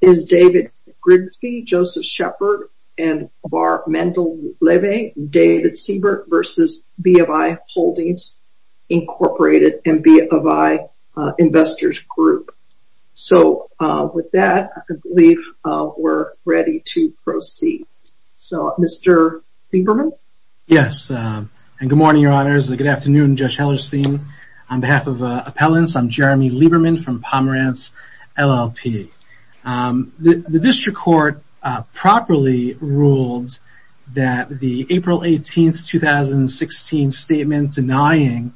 is David Grigsby, Joseph Shepard and Barb Mendel-Levy, David Siebert versus BofI Holdings, Inc. and BofI Investors Group. So with that, I believe we're ready to proceed. So, Mr. Lieberman? Yes, and good morning, Your Honors. Good afternoon, Judge Hellerstein. On behalf of appellants, I'm Jeremy Lieberman from Pomerantz, LLP. The district court properly ruled that the April 18, 2016 statement denying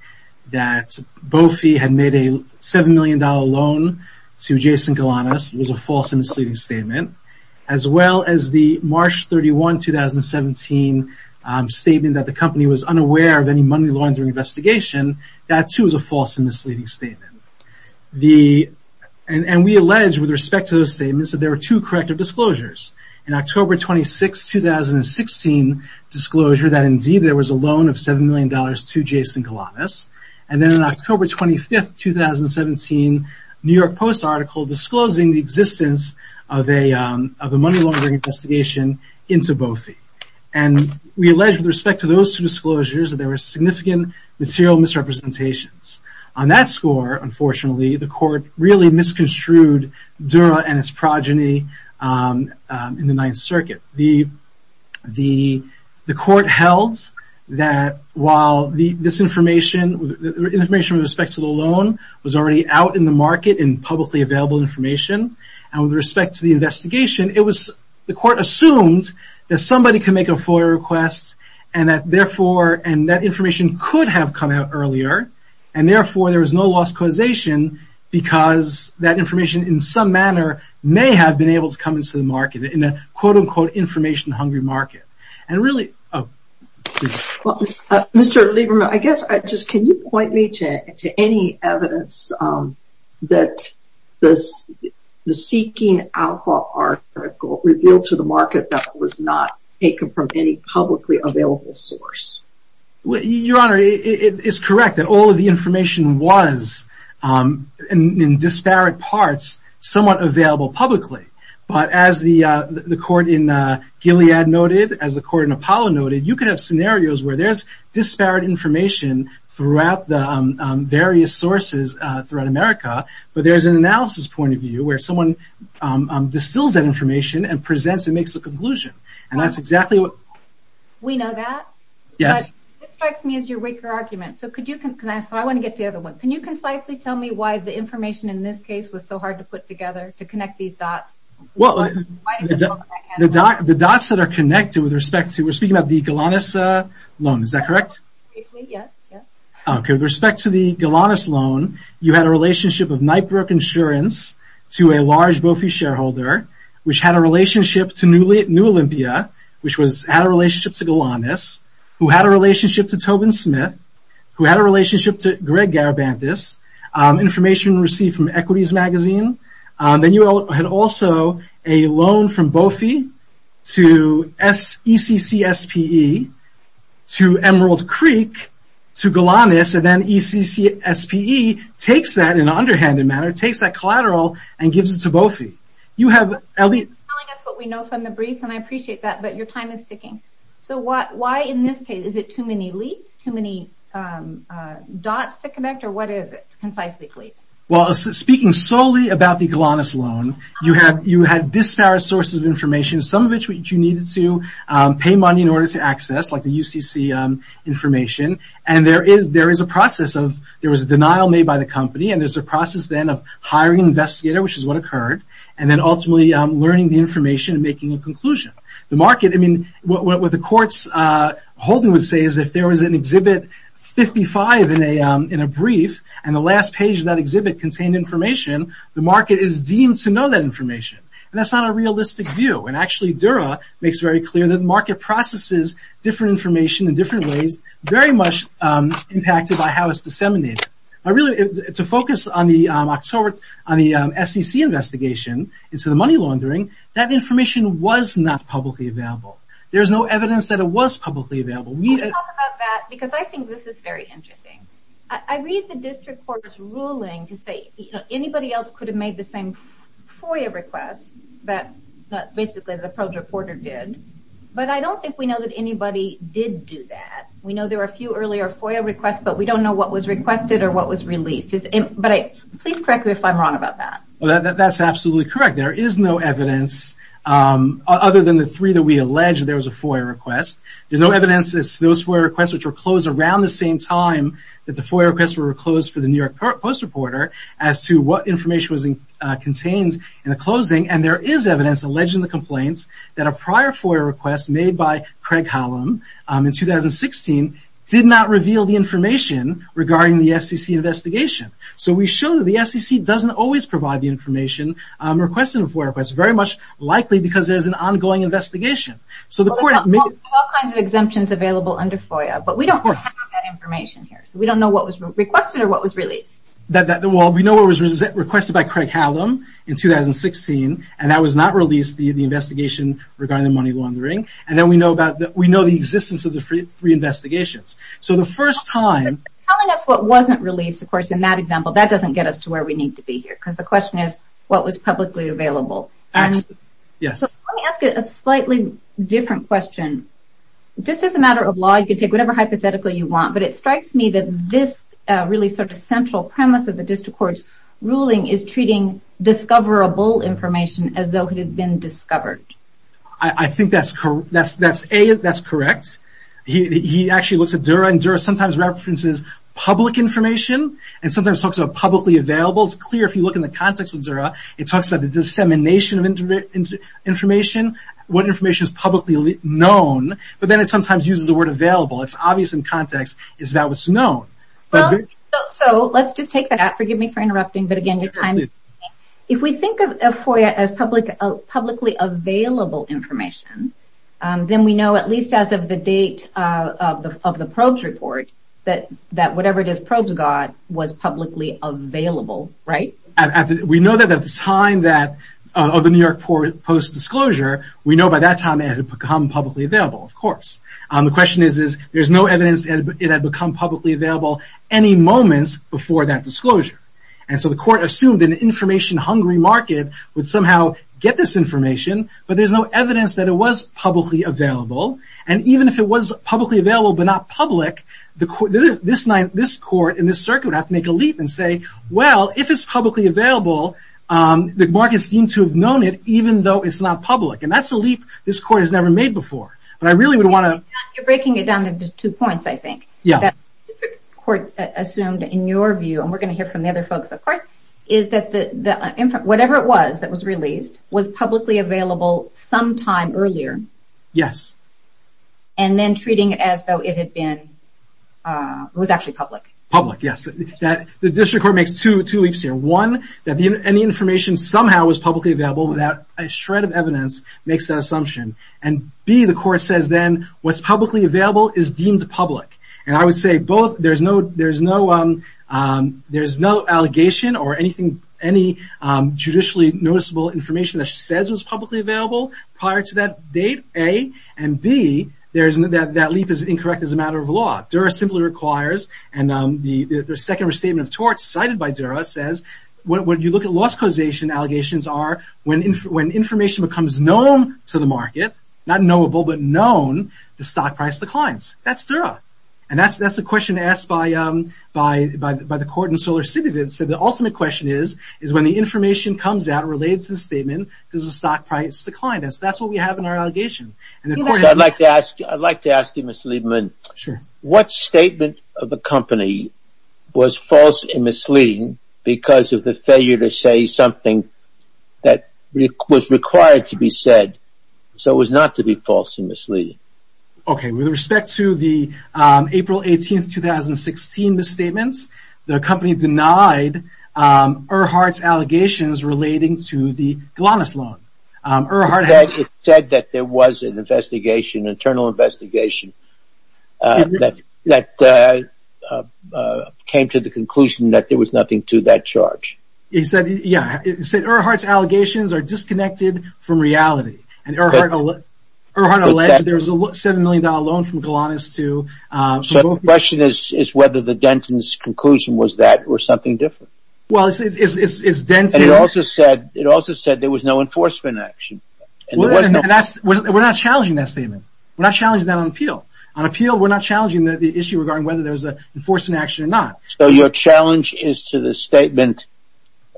that BofI had made a $7 million loan to Jason Galanis was a false and misleading statement, as well as the March 31, 2017 statement that the company was unaware of any money laundering investigation, that too is a false and misleading statement. And we allege, with respect to those statements, that there were two corrective disclosures. In October 26, 2016, disclosure that indeed there was a loan of $7 million to Jason Galanis, and then on October 25, 2017, New York Post article disclosing the existence of a money laundering investigation into BofI. And we allege, with respect to those two disclosures, that there were unfortunately, the court really misconstrued Dura and its progeny in the Ninth Circuit. The court held that while this information, the information with respect to the loan, was already out in the market in publicly available information, and with respect to the investigation, the court assumed that somebody can make a FOIA request, and that information could have come out earlier, and therefore there was no lost causation because that information, in some manner, may have been able to come into the market, in a quote-unquote information-hungry market. Mr. Lieberman, can you point me to any evidence that the seeking alcohol article revealed to the market that was not taken from any publicly available source? Your Honor, it is correct that all of the information was, in disparate parts, somewhat available publicly. But as the court in Gilead noted, as the court in Apollo noted, you could have scenarios where there's disparate information throughout the various sources throughout America, but there's an analysis point of view where someone distills that information and presents and makes a conclusion, and that's exactly what... We know that? Yes. This strikes me as your weaker argument, so I want to get the other one. Can you concisely tell me why the information in this case was so hard to put together to connect these dots? Well, the dots that are connected with respect to, we're speaking about the Golanus loan, is that correct? Okay, with respect to the Golanus loan, you had a relationship of Knightbrook insurance to a large Bofi shareholder, which had a relationship to New Olympia, which had a relationship to Golanus, who had a relationship to Tobin Smith, who had a relationship to Greg Garibantis, information received from Equities Magazine. Then you had also a loan from Bofi to ECCSPE to Emerald Creek to Golanus, and then ECCSPE takes that in an underhanded manner, takes that collateral and gives it to Bofi. You have... You're telling us what we know from the briefs, and I appreciate that, but your time is ticking. So, why in this case, is it too many leaps, too many dots to connect, or what is it, concisely please? Well, speaking solely about the Golanus loan, you had disparate sources of information, some of which you needed to pay money in order to access, like the UCC information, and there is a process of... There was a denial made by the company, and there's a process then of hiring an investigator, which is what occurred, and then ultimately learning the information and making a conclusion. The market, I mean, what the courts holding would say is if there was an Exhibit 55 in a brief, and the last page of that exhibit contained information, the market is deemed to know that information, and that's not a realistic view, and actually Dura makes very clear that market processes different information in different ways, very much impacted by how it's focused on the SEC investigation, and so the money laundering, that information was not publicly available. There's no evidence that it was publicly available. We talk about that because I think this is very interesting. I read the district court's ruling to say, you know, anybody else could have made the same FOIA request that basically the pro reporter did, but I don't think we know that anybody did do that. We know there are a few earlier FOIA requests, but we don't know what was requested or what was released, but please correct me if I'm wrong about that. Well, that's absolutely correct. There is no evidence other than the three that we allege there was a FOIA request. There's no evidence as to those FOIA requests which were closed around the same time that the FOIA requests were closed for the New York Post reporter as to what information was contained in the closing, and there is evidence alleging the complaints that a prior FOIA request made by Craig Hollum in 2016 did not reveal the information regarding the FCC investigation. So we show that the FCC doesn't always provide the information requested in FOIA requests, very much likely because there's an ongoing investigation. There's all kinds of exemptions available under FOIA, but we don't have that information here, so we don't know what was requested or what was released. Well, we know what was requested by Craig Hollum in 2016, and that was not released, the investigation regarding the money laundering, and then we know the existence of the three investigations. So the first time... Telling us what wasn't released, of course, in that example, that doesn't get us to where we need to be here, because the question is what was publicly available. Yes. Let me ask you a slightly different question. Just as a matter of law, you can take whatever hypothetical you want, but it strikes me that this really sort of central premise of the district court's ruling is treating discoverable information as though it actually looks at Dura, and Dura sometimes references public information, and sometimes talks about publicly available. It's clear if you look in the context of Dura, it talks about the dissemination of information, what information is publicly known, but then it sometimes uses the word available. It's obvious in context, it's about what's known. So let's just take that out, forgive me for interrupting, but again, if we think of FOIA as publicly available information, then we know at least as of the date of the probes report, that whatever it is probes got was publicly available, right? We know that at the time of the New York Post's disclosure, we know by that time it had become publicly available, of course. The question is, there's no evidence it had become publicly available any moments before that disclosure, and so the court assumed an information-hungry market would somehow get this information, but there's no evidence that it was publicly available, and even if it was publicly available but not public, this court in this circuit would have to make a leap and say, well, if it's publicly available, the markets seem to have known it even though it's not public, and that's a leap this court has never made before, but I really would want to... You're breaking it down into two points, I think. Yeah. The court assumed, in your view, and we're going to hear from the other folks, of course, is that whatever it was that was released was publicly available sometime earlier. Yes. And then treating it as though it had been... was actually public. Public, yes. The district court makes two leaps here. One, that any information somehow was publicly available without a shred of evidence makes that assumption, and B, the court says then what's publicly available is deemed public, and I would say both. There's no... there's no... there's no allegation or anything... any judicially noticeable information that she says was publicly available prior to that date, A, and B, there's... that leap is incorrect as a matter of law. Dura simply requires, and the second restatement of torts cited by Dura says, when you look at loss causation, allegations are when information becomes known to the market, not knowable, but known, the stock price declines. That's Dura, and that's the question asked by... by... by the court in SolarCity that said the ultimate question is, is when the information comes out related to the statement, does the stock price decline? That's... that's what we have in our allegation. And the court... I'd like to ask... I'd like to ask you, Mr. Lieberman. Sure. What statement of the company was false and misleading because of the failure to say something that was required to be said, so it was not to be false and misleading? Okay, with respect to the April 18th, 2016 misstatements, the company denied Earhart's allegations relating to the Golanus loan. Earhart had... It said that there was an investigation, internal investigation, that... that came to the conclusion that there was nothing to that charge. He said, yeah, it said Earhart's allegations are disconnected from reality, and Earhart... Earhart alleged there was a $7 million loan from Golanus to... So the question is... is whether the Denton's conclusion was that or something different? Well, it's... it's... it's Denton... And it also said... it also said there was no enforcement action. And there was no... And that's... we're not challenging that statement. We're not challenging that on appeal. On appeal, we're not challenging the issue regarding whether there's an enforcement action or not. So your challenge is to the statement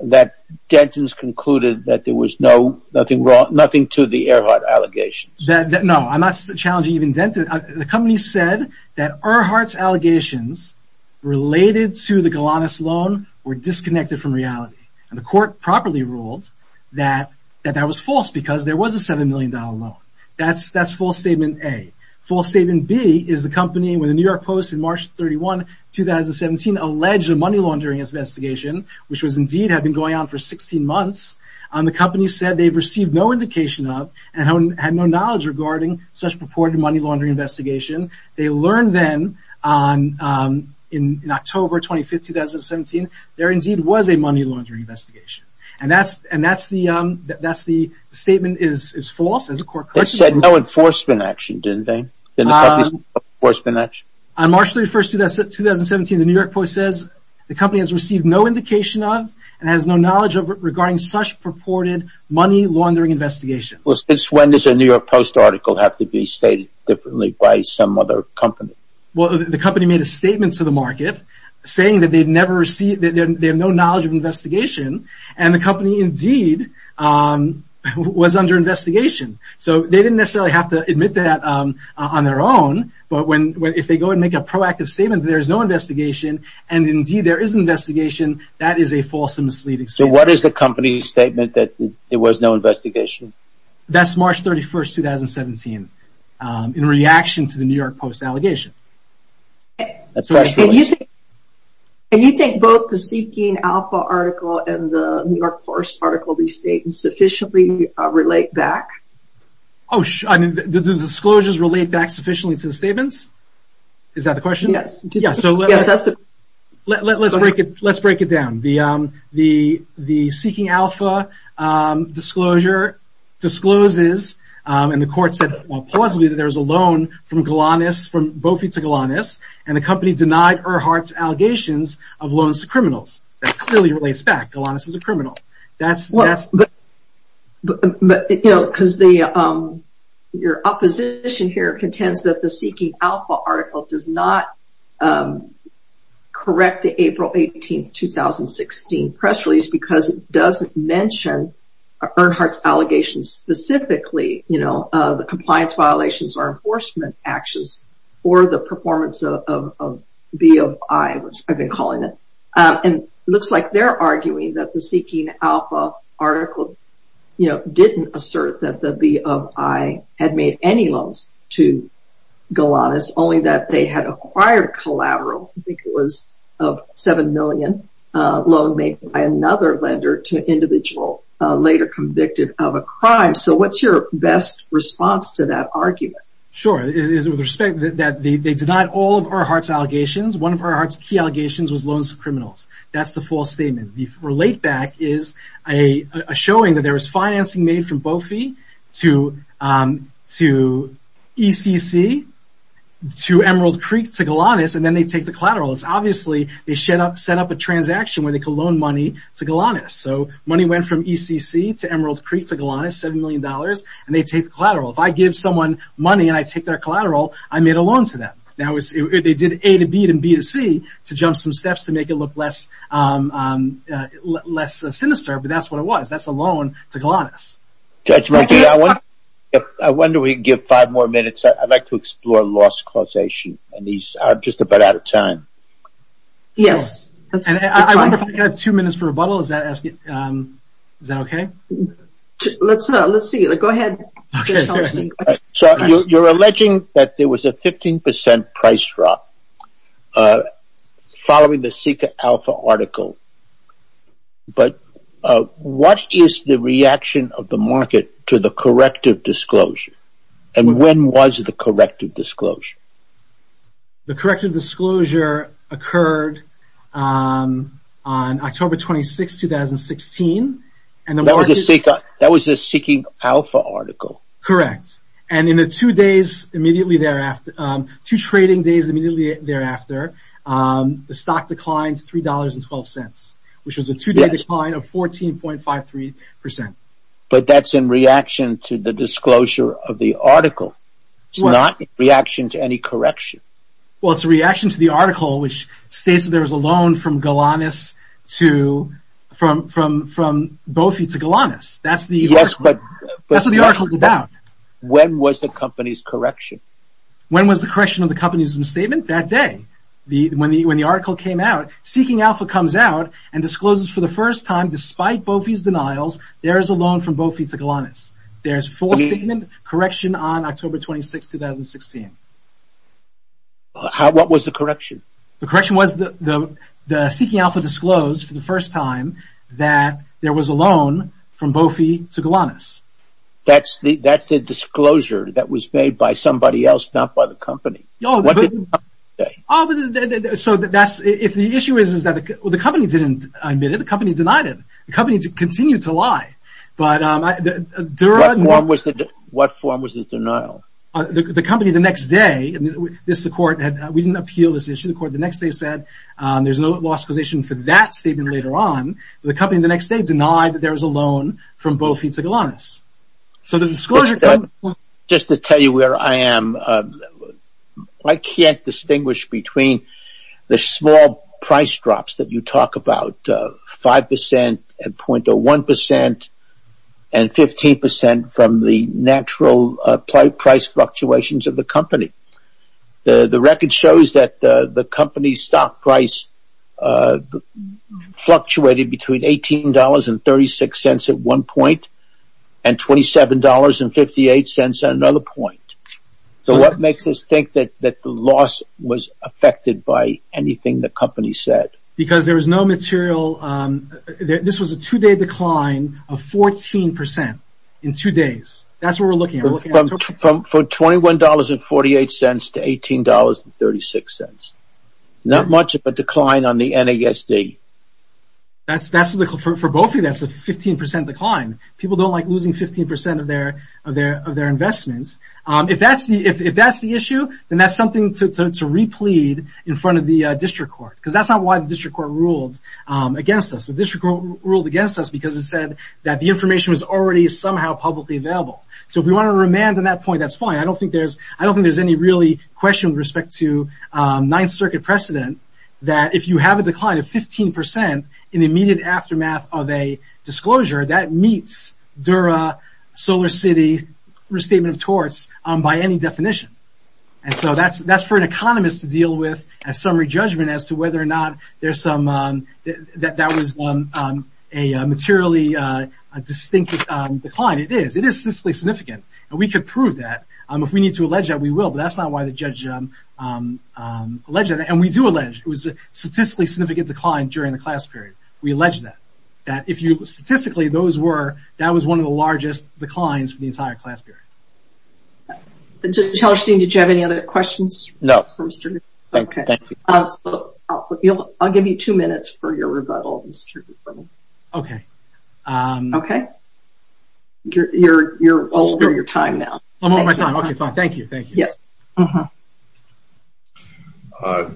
that Denton's concluded that there was no... nothing wrong... nothing to the Earhart allegations? That... that... no, I'm not challenging even Denton. The company said that Earhart's allegations related to the Golanus loan were disconnected from reality. And the court properly ruled that... that that was false because there was a $7 million loan. That's... that's false statement A. False statement B is the company, with the New York Post, in March 31, 2017, alleged a money laundering investigation, which was indeed had been going on for 16 months. The company said they've received no purported money laundering investigation. They learned then on... in... in October 25, 2017, there indeed was a money laundering investigation. And that's... and that's the... that's the statement is... is false as a court... They said no enforcement action, didn't they? Didn't the company say no enforcement action? On March 31, 2017, the New York Post says the company has received no indication of, and has no knowledge of, regarding such purported money laundering investigation. Well, since when does a New York Post article have to be stated differently by some other company? Well, the company made a statement to the market saying that they've never received... that they have no knowledge of investigation, and the company indeed was under investigation. So they didn't necessarily have to admit that on their own, but when... when... if they go and make a proactive statement there's no investigation, and indeed there is investigation, that is a false and misleading statement. So what is the company's statement that there was no investigation? That's March 31, 2017, in reaction to the New York Post allegation. And you think both the Seeking Alpha article and the New York Post article, these statements sufficiently relate back? Oh, I mean, do the disclosures relate back sufficiently to the statements? Is that the question? Yes. Yeah, so let's break it... let's break it down. The... the... the Seeking Alpha disclosure discloses, and the court said plausibly, that there was a loan from Galanis, from Bofi to Galanis, and the company denied Earhart's allegations of loans to criminals. That clearly relates back. Galanis is a criminal. That's... Well, but... you know, because the... your opposition here contends that the Seeking Alpha article, you know, didn't assert that the B of I had made any loans to Galanis, only that they had acquired collateral. I think it was of 7 million loan made by another lender to an individual later convicted of a crime. So what's your best response to that argument? Sure. It is with respect that they denied all of Earhart's allegations. One of Earhart's key allegations was loans to criminals. That's the false statement. The relate back is a showing that there was financing made from Bofi to... to ECC, to Emerald Creek to Galanis, and then they take the collateral. It's obviously they set up... set up a transaction where they could loan money to Galanis. So money went from ECC to Emerald Creek to Galanis, 7 million dollars, and they take the collateral. If I give someone money and I take their collateral, I made a loan to them. Now it's... they did A to B and B to C to jump some steps to make it look less... less sinister, but that's what it was. That's a loan to Galanis. I wonder we give five more minutes. I'd like to explore loss causation, and these are just about out of time. Yes. I have two minutes for rebuttal. Is that... is that okay? Let's... let's see. Go ahead. So you're alleging that there was a 15% price drop following the Seeker Alpha article, but what is the reaction of the market to the corrective disclosure, and when was the corrective disclosure? The corrective disclosure occurred on October 26, 2016, and the market... That was the Seeker... that was the Seeking Alpha article. Correct, and in the two days immediately thereafter... two trading days immediately thereafter, the stock declined $3.12, which was a two-day decline of 14.53%. But that's in reaction to the disclosure of the article. It's not in reaction to any correction. Well, it's a reaction to the article, which states that there was a loan from Galanis to... from... from... from Bofi to Galanis. That's the... Yes, but... That's what the article's about. When was the company's correction? When was the correction of the company's statement? That day. The... when the... when the article came out, Seeking Alpha comes out and discloses for the first time, despite Bofi's denials, there is a loan from Bofi to Galanis. There's full statement correction on October 26, 2016. How... what was the correction? The correction was the... the... the Seeking Alpha disclosed for the first time that there was a loan from Bofi to Galanis. That's the... that's the disclosure that was made by somebody else, not by the company. So that's... if the issue is... is that the company didn't admit it, the company denied it. The company continued to lie. But Dura... What form was the... what form was the denial? The company the next day... this... the court had... we didn't appeal this issue. The court the next day said there's no law supposition for that statement later on. The company the next day denied that there was a loan from Bofi to Galanis. So the disclosure... Just to tell you where I am, I can't distinguish between the small price drops that you talk about, 5% and 0.01% and 15% from the natural price fluctuations of the company. The... the record shows that the... the company's stock price fluctuated between $18.36 at one point and $27.58 at another point. So what makes us think that... that the loss was affected by anything the company said? Because there was no material... this was a two-day decline of 14% in two days. That's what we're looking at. From... for $21.48 to $18.36. Not much of a decline on the NASD. That's... that's... for Bofi that's a 15% decline. People don't like losing 15% of their... of their... of their investments. If that's the... if that's the issue, then that's something to... to replead in front of the district court. Because that's not why the district court ruled against us. The district court ruled against us because it said that the information was already somehow publicly available. So if we want to remand on that point, that's fine. I don't think there's... I don't think there's any really question with respect to Ninth Circuit precedent that if you have a decline of 15% in the immediate aftermath of a disclosure, that meets Dura, SolarCity, Restatement of Torts by any definition. And so that's... that's for an economist to deal with as summary judgment as to whether or not there's some... that... that was a materially distinct decline. It is. It is statistically significant. And we could prove that. If we need to allege that, we will. But that's not why the judge alleged that. And we do allege it was a statistically significant decline during the class period. We allege that. That if you... statistically those were... that was one of the largest declines for the entire class period. Judge Hallerstein, did you have any other questions? No. Okay. I'll give you two minutes for your rebuttal. Okay. Okay. You're... you're over your time now. I'm over my time. Okay, fine. Thank you. Thank you. Yes.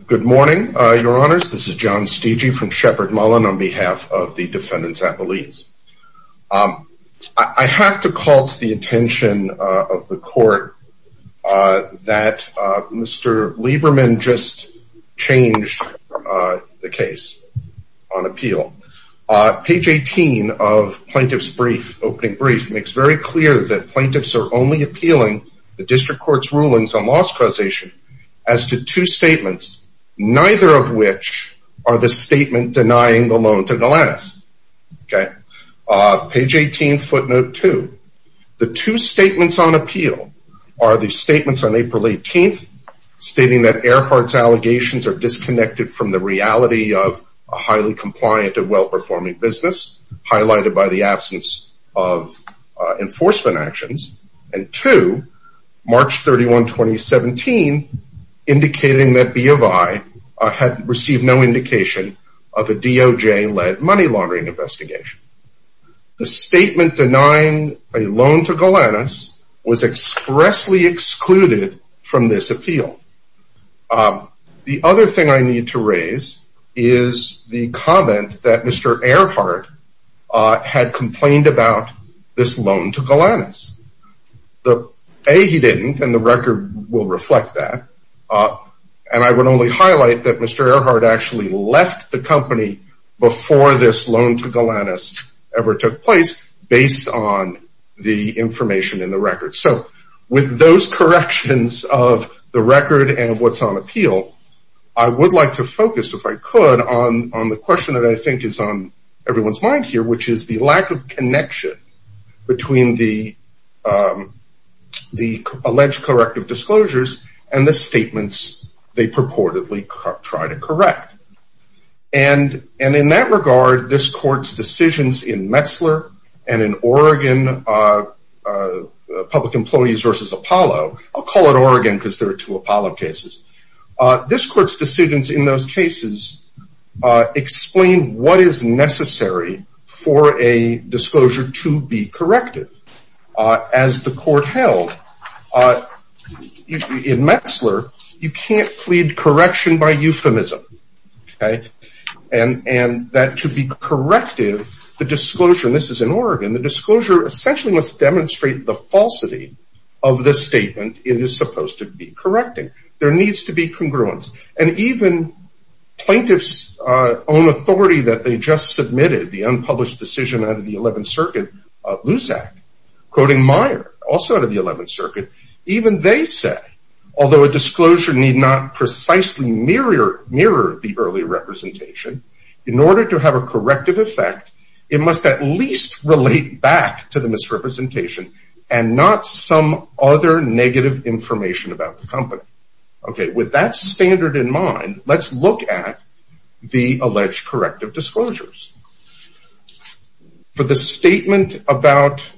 Good morning, your honors. This is John Stege from Shepard Mullen on behalf of the defendants at Belize. Um, I have to call to the attention of the court that Mr. Lieberman just changed the case on appeal. Page 18 of plaintiff's brief, opening brief, makes very clear that plaintiffs are only appealing the district court's rulings on loss causation as to two statements, okay? Page 18, footnote two. The two statements on appeal are the statements on April 18th, stating that Earhart's allegations are disconnected from the reality of a highly compliant and well-performing business, highlighted by the absence of enforcement actions. And two, March 31, 2017, indicating that B of I had received no indication of a DOJ-led money laundering investigation. The statement denying a loan to Golanus was expressly excluded from this appeal. The other thing I need to raise is the comment that Mr. Earhart had complained about this loan to Golanus. A, he didn't, and the record will reflect that. And I would only highlight that Mr. Earhart actually left the company before this loan to Golanus ever took place, based on the information in the record. So with those corrections of the record and what's on appeal, I would like to focus, if I could, on the question that I think is on everyone's mind here, which is the lack of connection between the alleged corrective disclosures and the statements they purportedly try to correct. And in that regard, this court's decisions in Metzler and in Oregon, public employees versus Apollo, I'll call it Oregon because there are two Apollo cases, this court's decisions in those cases explain what is necessary for a disclosure to be corrective. As the court held, in Metzler, you can't plead correction by euphemism. And that to be corrective, the disclosure, and this is in Oregon, the disclosure essentially must demonstrate the falsity of the statement it is supposed to be correcting. There needs to be congruence. And even plaintiff's own authority that they just submitted, the unpublished decision out of the 11th Circuit, Luzak, quoting Meyer, also out of the 11th Circuit, even they said, although a disclosure need not precisely mirror the early representation, in order to have a corrective effect, it must at least relate back to the misrepresentation and not some other negative information about the company. Okay, with that standard in mind, let's look at the alleged corrective disclosures. For the statement about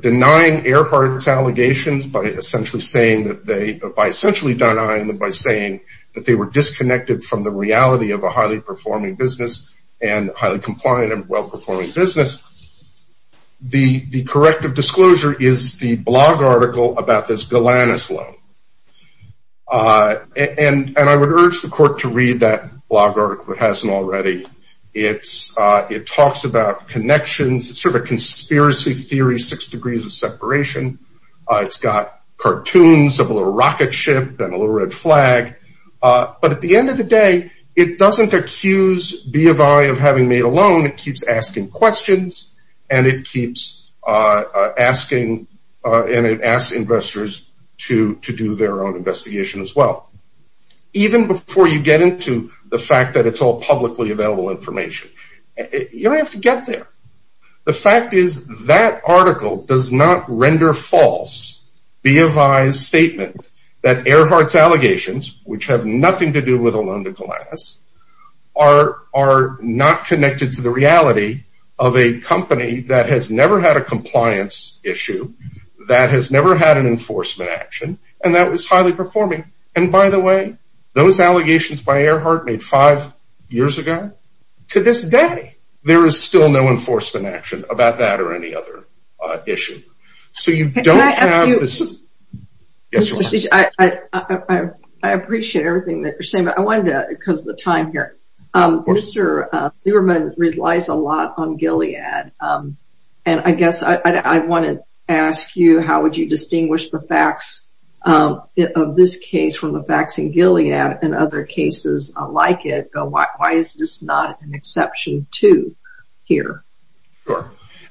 denying Earhart's allegations by essentially saying that they, by essentially denying them by saying that they were disconnected from the reality of a highly performing business and highly compliant and well-performing business, the corrective disclosure is the blog article about this Golanus loan. And I would urge the court to read that blog article if it hasn't already. It talks about connections. It's sort of a conspiracy theory, six degrees of separation. It's got cartoons of a little rocket ship and a little red flag. But at the end of the day, it doesn't accuse BFI of having made a loan. It keeps asking questions and it keeps asking investors to do their own investigation as well. Even before you get into the fact that it's all publicly available information, you don't have to get there. The fact is that article does not render false BFI's statement that Earhart's allegations, which have nothing to do with a loan to Golanus, are not connected to the reality of a company that has never had a compliance issue, that has never had an enforcement action, and that was highly performing. And by the way, those allegations by Earhart made five years ago. To this day, there is still no enforcement action about that or any other issue. I appreciate everything that you're saying, but I wanted to, because of the time here, Mr. Lieberman relies a lot on Gilead. And I guess I want to ask you, how would you distinguish the facts of this case from the facts in Gilead and other cases like it? Why is this not an exception to here?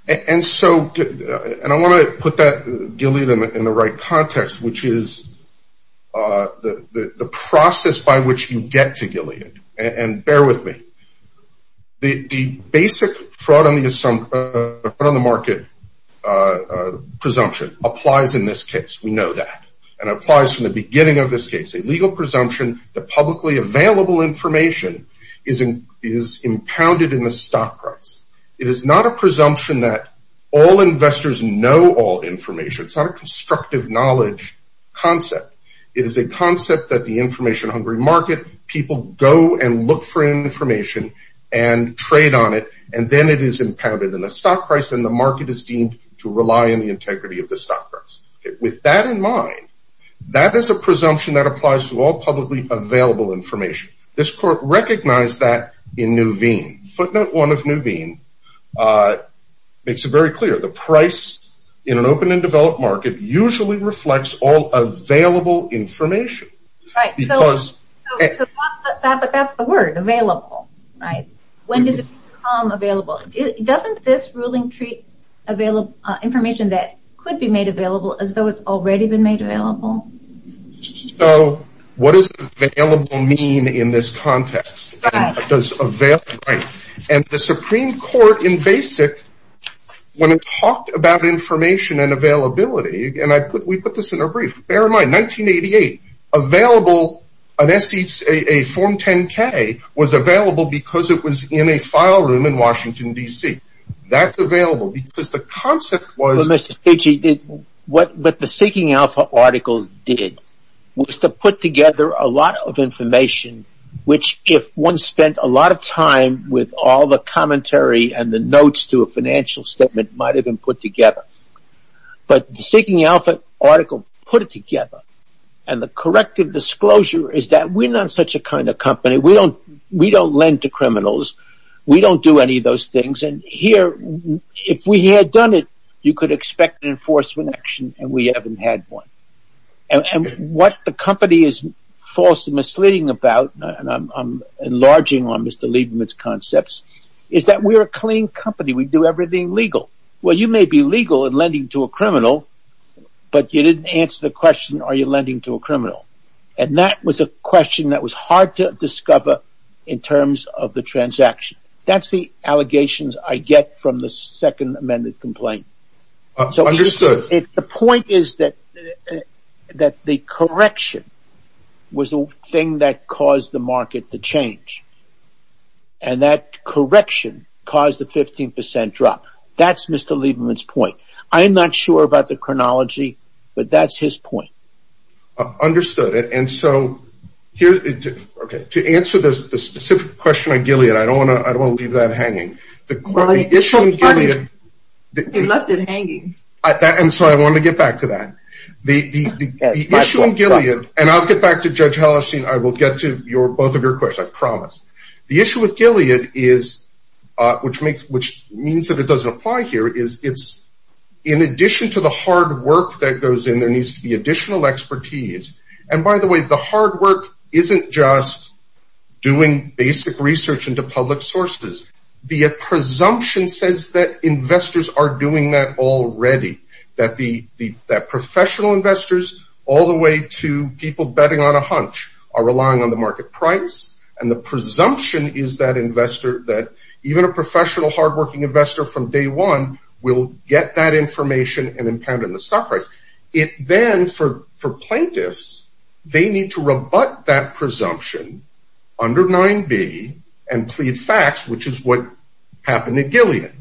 And I want to put that Gilead in the right context, which is the process by which you get to Gilead. And bear with me. The basic fraud on the market presumption applies in this case. We know that. And it applies from the beginning of this case. A legal presumption that publicly available information is impounded in the stock price. It is not a presumption that all investors know all information. It's not a constructive knowledge concept. It is a concept that the information hungry market, people go and look for information and trade on it. And then it is impounded in the stock price and the market is deemed to rely on the integrity of the stock price. With that in mind, that is a presumption that applies to all publicly available information. This court recognized that in Nuveen. Footnote one of Nuveen makes it very clear. The price in an open and developed market usually reflects all available information. Right. Because. But that's the word. Available. Right. When does it become available? Doesn't this ruling treat information that could be made available as though it's already been made available? So what does available mean in this context? Does available. Right. The Supreme Court in basic when it talked about information and availability and I put we put this in a brief. Bear in mind 1988 available. An S.E.A. A form 10 K was available because it was in a file room in Washington, D.C. That's available because the concept was. Mr. What the Seeking Alpha article did was to put together a lot of information, which if one spent a lot of time with all the commentary and the notes to a financial statement might have been put together. But the Seeking Alpha article put it together and the corrective disclosure is that we're not such a kind of company. We don't we don't lend to criminals. We don't do any of those things. And here if we had done it, you could expect enforcement action and we haven't had one. And what the company is false and misleading about and I'm enlarging on Mr. Lieberman's concepts is that we're a clean company. We do everything legal. Well, you may be legal and lending to a criminal, but you didn't answer the question. Are you lending to a criminal? And that was a question that was hard to discover in terms of the transaction. That's the allegations I get from the second amended complaint. Understood. The point is that that the correction was the thing that caused the market to change. And that correction caused the 15 percent drop. That's Mr. Lieberman's point. I'm not sure about the chronology, but that's his point. Understood. And so here to answer the specific question on Gilead, I don't want to leave that hanging. The issue with Gilead is, which means that it doesn't apply here, is in addition to the hard work that goes in, there needs to be additional expertise. And by the way, the hard work isn't just doing basic research into public sources. The presumption says that investors are doing that already. That the professional investors, all the way to people betting on a hunch, are relying on the market price. And the presumption is that investor, that even a professional hardworking investor from day one, will get that information and impound it in the stock price. It then, for plaintiffs, they need to rebut that presumption under 9b and plead facts, which is what happened at Gilead.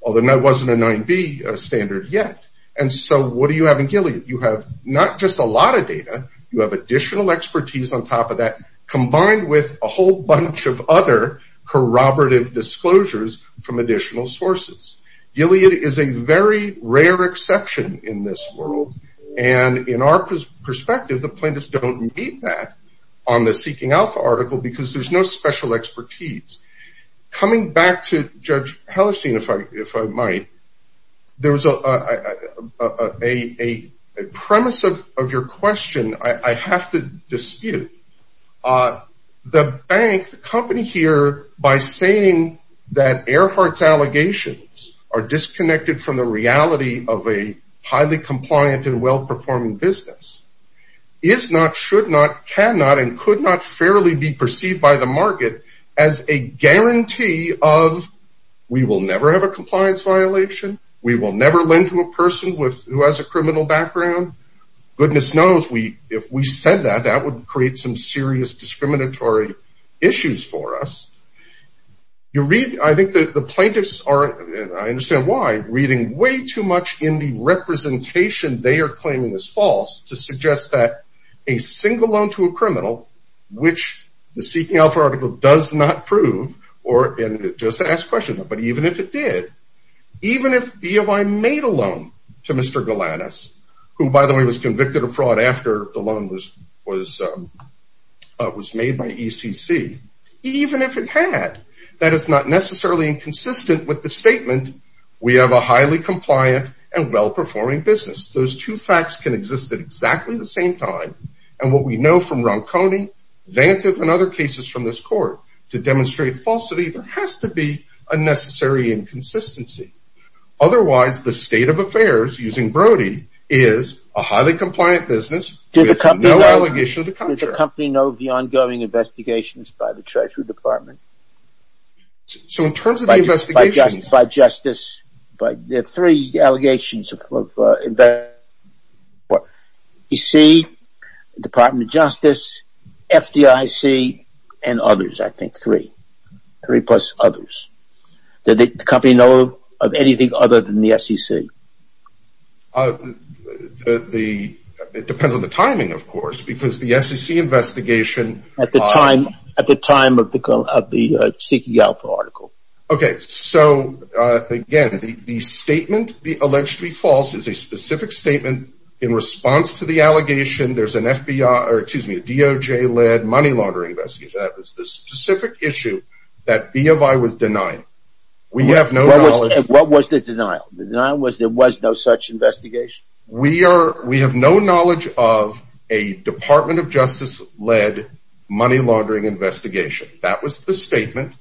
Although that wasn't a 9b standard yet. And so what do you have in Gilead? You have not just a lot of data, you have additional expertise on top of that, combined with a whole bunch of other corroborative disclosures from additional sources. Gilead is a very rare exception in this world. And in our perspective, the plaintiffs don't need that on the Seeking Alpha article, because there's no special expertise. Coming back to Judge Hellerstein, if I might. There was a premise of your question I have to dispute. The bank, the company here, by saying that Earhart's allegations are disconnected from the reality of a highly compliant and well-performing business, is not, should not, cannot, and could not fairly be perceived by the market as a guarantee of, we will never have a compliance violation. We will never lend to a person who has a criminal background. Goodness knows, if we said that, that would create some serious discriminatory issues for us. I think the plaintiffs are, I understand why, reading way too much in the representation they are claiming is false to suggest that a single loan to a criminal, which the Seeking Alpha article does not prove, or just to ask a question, but even if it did, even if EOI made a loan to Mr. Galanis, who by the way was convicted of fraud after the loan was made by ECC, even if it had, that is not necessarily inconsistent with the statement, we have a highly compliant and well-performing business. Those two facts can exist at exactly the same time, and what we know from Ronconi, Vantive, and other cases from this court, to demonstrate falsity, there has to be a necessary inconsistency. Otherwise, the state of affairs, using Brody, is a highly compliant business with no allegation of the contrary. Does the company know of the ongoing investigations by the Treasury Department? So, in terms of the investigations... By Justice, there are three allegations of investigation, ECC, Department of Justice, FDIC, and others, I think three. Three plus others. Did the company know of anything other than the SEC? It depends on the timing, of course, because the SEC investigation... At the time of the Seeking Alpha article. Okay, so, again, the statement, allegedly false, is a specific statement in response to the allegation there's an FBI, or excuse me, a DOJ-led money laundering investigation. That was the specific issue that B of I was denying. We have no knowledge... What was the denial? The denial was there was no such investigation? We are... We have no knowledge of a Department of Justice-led money laundering investigation. That was the statement.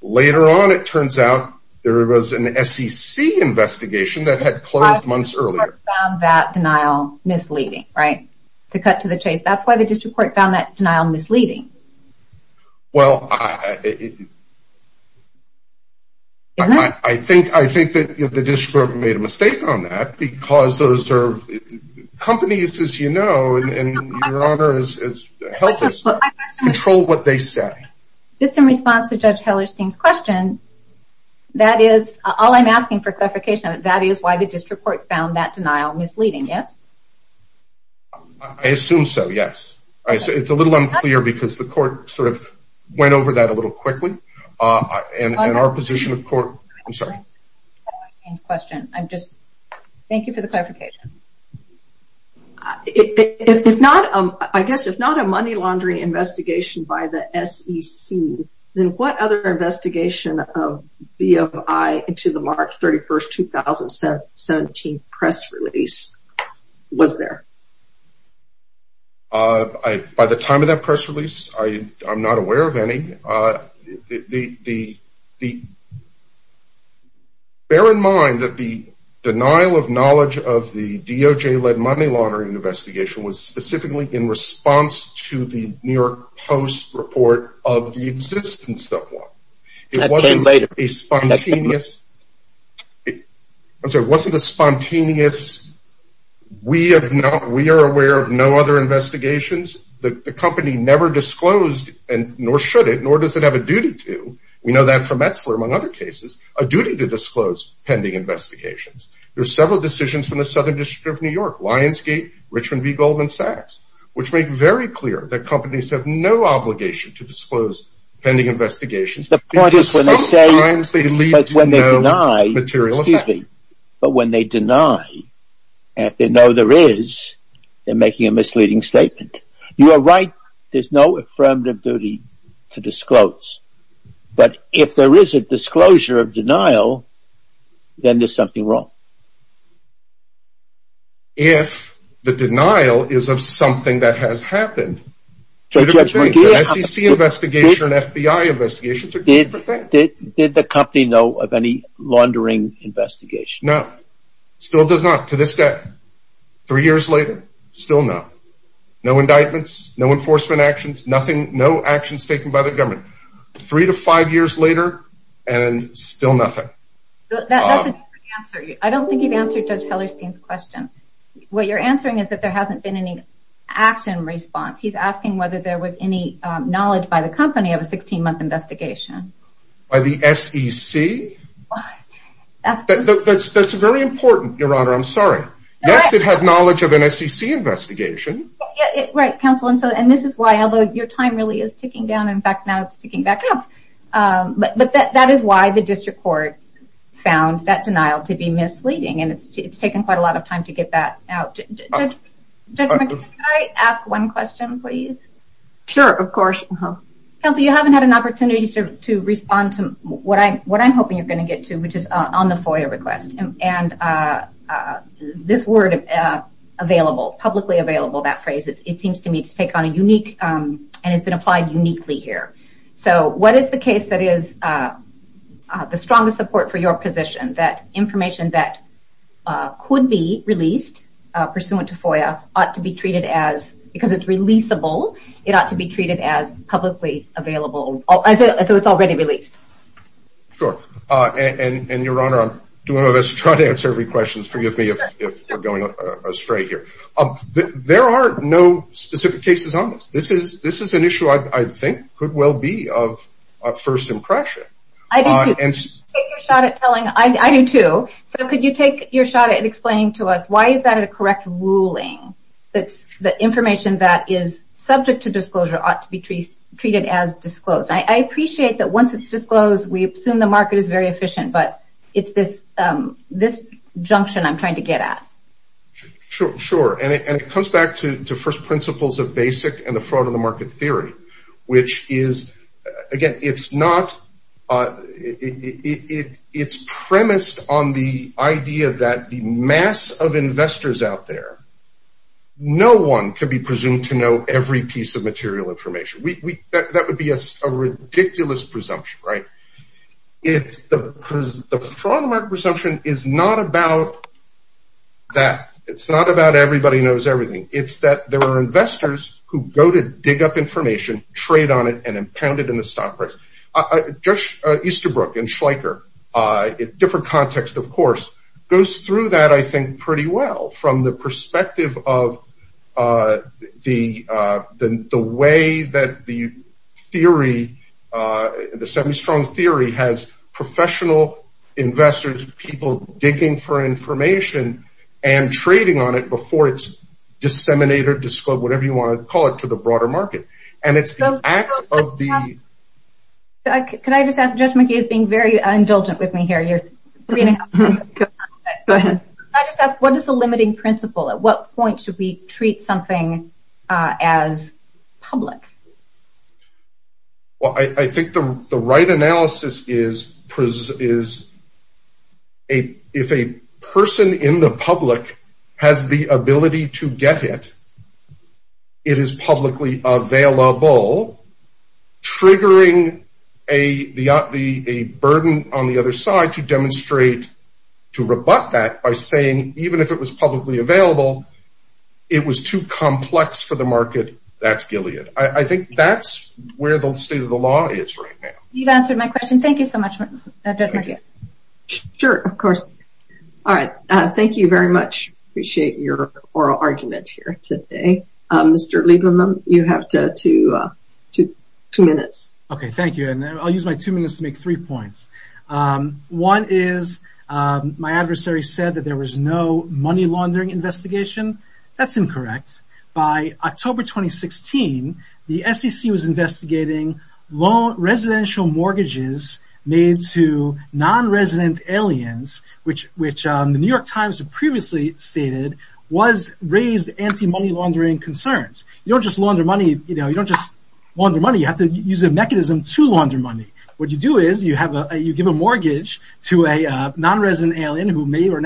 Later on, it turns out there was an SEC investigation that had closed months earlier. But the district court found that denial misleading, right? To cut to the chase. That's why the district court found that denial misleading. Well, I think that the district court made a mistake on that, because those are companies, as you know, and Your Honor has helped us control what they say. Just in response to Judge Hellerstein's question, that is, all I'm asking for clarification of it, that is why the district court found that denial misleading, yes? I assume so, yes. I say it's a little unclear because the court sort of went over that a little quickly. And our position of court... I'm sorry. ...Hellerstein's question. I'm just... Thank you for the clarification. I guess if not a money laundering investigation by the SEC, then what other investigation of BFI into the March 31st, 2017 press release was there? By the time of that press release, I'm not aware of any. Bear in mind that the denial of knowledge of the DOJ-led money laundering investigation was specifically in response to the New York Post report of the existence of one. It wasn't a spontaneous... I'm sorry, it wasn't a spontaneous... We are aware of no other investigations. The company never disclosed, nor should it, nor does it have a duty to. We know that from Metzler, among other cases. A duty to disclose pending investigations. There are several decisions from the Southern District of New York, Lionsgate, Richmond v. Goldman Sachs, which make very clear that companies have no obligation to disclose pending investigations. The point is when they say... Because sometimes they lead to no material effect. But when they deny, and if they know there is, they're making a misleading statement. You are right. There's no affirmative duty to disclose. But if there is a disclosure of denial, then there's something wrong. If the denial is of something that has happened... SEC investigation and FBI investigations are two different things. Did the company know of any laundering investigation? No, still does not, to this day. Three years later, still no. No indictments, no enforcement actions, no actions taken by the government. Three to five years later, and still nothing. I don't think you've answered Judge Hellerstein's question. What you're answering is that there hasn't been any action response. He's asking whether there was any knowledge by the company of a 16-month investigation. By the SEC? That's very important, Your Honor. I'm sorry. Yes, it had knowledge of an SEC investigation. Right, Counsel. And this is why, although your time really is ticking down. In fact, now it's ticking back up. But that is why the district court found that denial to be misleading. And it's taken quite a lot of time to get that out. Judge, could I ask one question, please? Sure, of course. Counsel, you haven't had an opportunity to respond to what I'm hoping you're going to get to, which is on the FOIA request. And this word, available, publicly available, that phrase, it seems to me to take on a unique and has been applied uniquely here. So what is the case that is the strongest support for your position? That information that could be released pursuant to FOIA ought to be treated as, because it's releasable, it ought to be treated as publicly available, so it's already released. Sure, and Your Honor, I'm doing all this to try to answer every question. Forgive me if we're going astray here. There are no specific cases on this. This is an issue I think could well be of first impression. I do too. So could you take your shot at explaining to us, why is that a correct ruling? That information that is subject to disclosure ought to be treated as disclosed. I appreciate that once it's disclosed, we assume the market is very efficient, but it's this junction I'm trying to get at. Sure, and it comes back to first principles of basic and the fraud of the market theory, which is, again, it's premised on the idea that the mass of investors out there, no one can be presumed to know every piece of material information. That would be a ridiculous presumption, right? The fraud of the market presumption is not about that. It's not about everybody knows everything. It's that there are investors who go to dig up information, trade on it, and impound it in the stock price. Easterbrook and Schleicher, different context, of course, goes through that, I think, pretty well from the perspective of the way that the theory, the semi-strong theory has professional investors, people digging for information and trading on it before it's disseminated, disclosed, whatever you want to call it, to the broader market. And it's the act of the... Can I just ask, Judge McGee is being very indulgent with me here. Go ahead. I just ask, what is the limiting principle? At what point should we treat something as public? Well, I think the right analysis is if a person in the public has the ability to get it, it is publicly available, triggering a burden on the other side to demonstrate, to rebut that by saying, even if it was publicly available, it was too complex for the market, that's Gilead. I think that's where the state of the law is right now. You've answered my question. Thank you so much, Judge McGee. Sure, of course. All right. Thank you very much. Appreciate your oral argument here today. Mr. Lieberman, you have two minutes. Okay, thank you. And I'll use my two minutes to make three points. One is, my adversary said that there was no money laundering investigation. That's incorrect. By October 2016, the SEC was investigating residential mortgages made to non-resident aliens, which the New York Times previously stated was raised anti-money laundering concerns. You don't just launder money, you have to use a mechanism to launder money. What you do is you give a mortgage to a non-resident alien who may or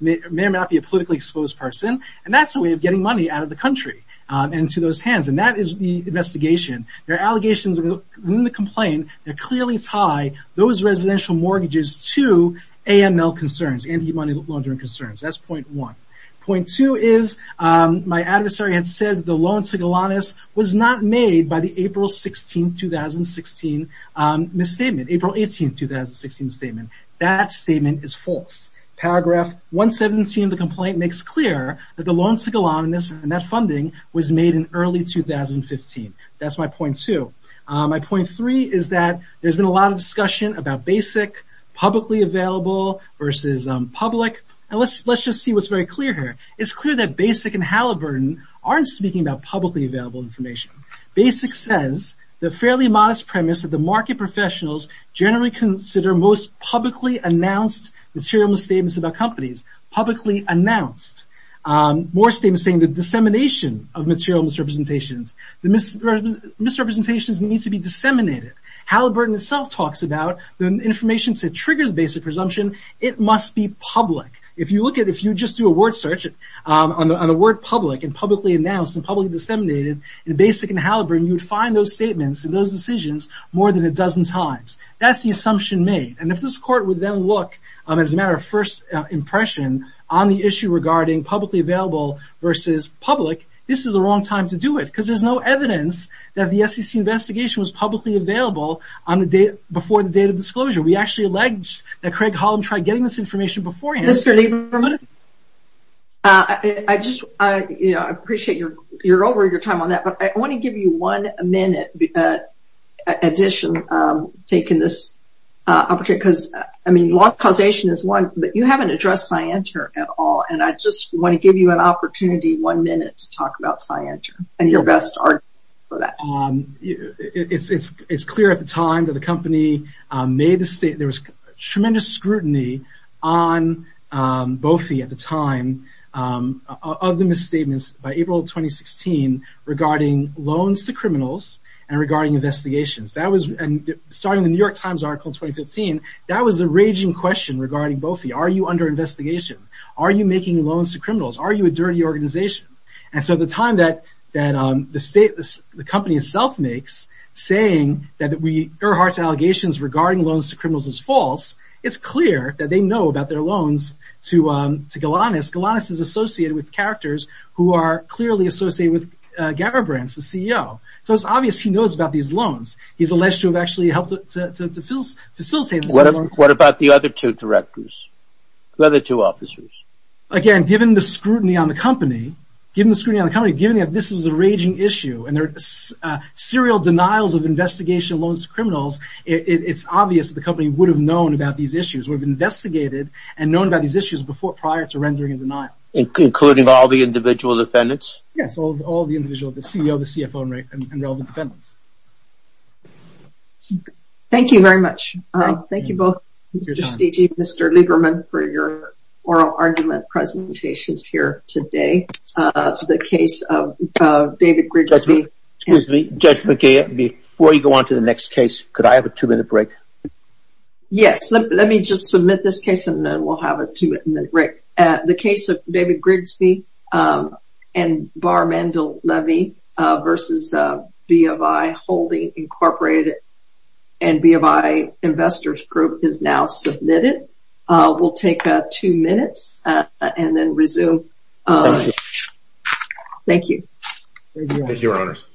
may not be a politically exposed person. And that's a way of getting money out of the country and into those hands. And that is the investigation. There are allegations in the complaint that clearly tie those residential mortgages to AML concerns, anti-money laundering concerns. That's point one. Point two is, my adversary had said the loan to Golanus was not made by the April 16, 2016 misstatement, April 18, 2016 statement. That statement is false. Paragraph 117 of the complaint makes clear that the loan to Golanus and that funding was made in early 2015. That's my point two. My point three is that there's been a lot of discussion about BASIC, publicly available versus public. And let's just see what's very clear here. It's clear that BASIC and Halliburton aren't speaking about publicly available information. BASIC says, the fairly modest premise of the market professionals generally consider most publicly announced material misstatements about companies. Publicly announced. More statements saying the dissemination of material misrepresentations. The misrepresentations need to be disseminated. Halliburton itself talks about the information to trigger the BASIC presumption, it must be public. If you look at, if you just do a word search on the word public and publicly announced and publicly disseminated in BASIC and Halliburton, you'd find those statements and those decisions more than a dozen times. That's the assumption made. And if this court would then look, as a matter of first impression, on the issue regarding publicly available versus public, this is the wrong time to do it. There's no evidence that the SEC investigation was publicly available before the date of disclosure. We actually alleged that Craig Holland tried getting this information beforehand. Mr. Lieberman, I appreciate you're over your time on that, but I want to give you one minute addition, taking this opportunity, because I mean, law causation is one, but you haven't addressed Scienter at all, and I just want to give you an opportunity, one minute, to best argue for that. It's clear at the time that the company made the statement, there was tremendous scrutiny on BOFI at the time of the misstatements by April of 2016 regarding loans to criminals and regarding investigations. That was, starting the New York Times article in 2015, that was the raging question regarding BOFI. Are you under investigation? Are you making loans to criminals? Are you a dirty organization? At the time that the company itself makes, saying that Earhart's allegations regarding loans to criminals is false, it's clear that they know about their loans to Galanis. Galanis is associated with characters who are clearly associated with Garibrands, the CEO. It's obvious he knows about these loans. He's alleged to have actually helped to facilitate this loan. What about the other two directors, the other two officers? Again, given the scrutiny on the company, given the scrutiny on the company, given that this is a raging issue and there are serial denials of investigation of loans to criminals, it's obvious that the company would have known about these issues, would have investigated and known about these issues prior to rendering a denial. Including all the individual defendants? Yes, all the individuals, the CEO, the CFO, and relevant defendants. Thank you very much. Thank you both, Mr. Steegey, Mr. Lieberman, for your oral argument presentations here today. The case of David Grigsby. Excuse me. Judge McKay, before you go on to the next case, could I have a two-minute break? Yes. Let me just submit this case and then we'll have a two-minute break. The case of David Grigsby and Barr Mandel Levy versus BFI Holding Incorporated and BFI Investors Group is now submitted. We'll take two minutes and then resume. Thank you. Thank you, Your Honors.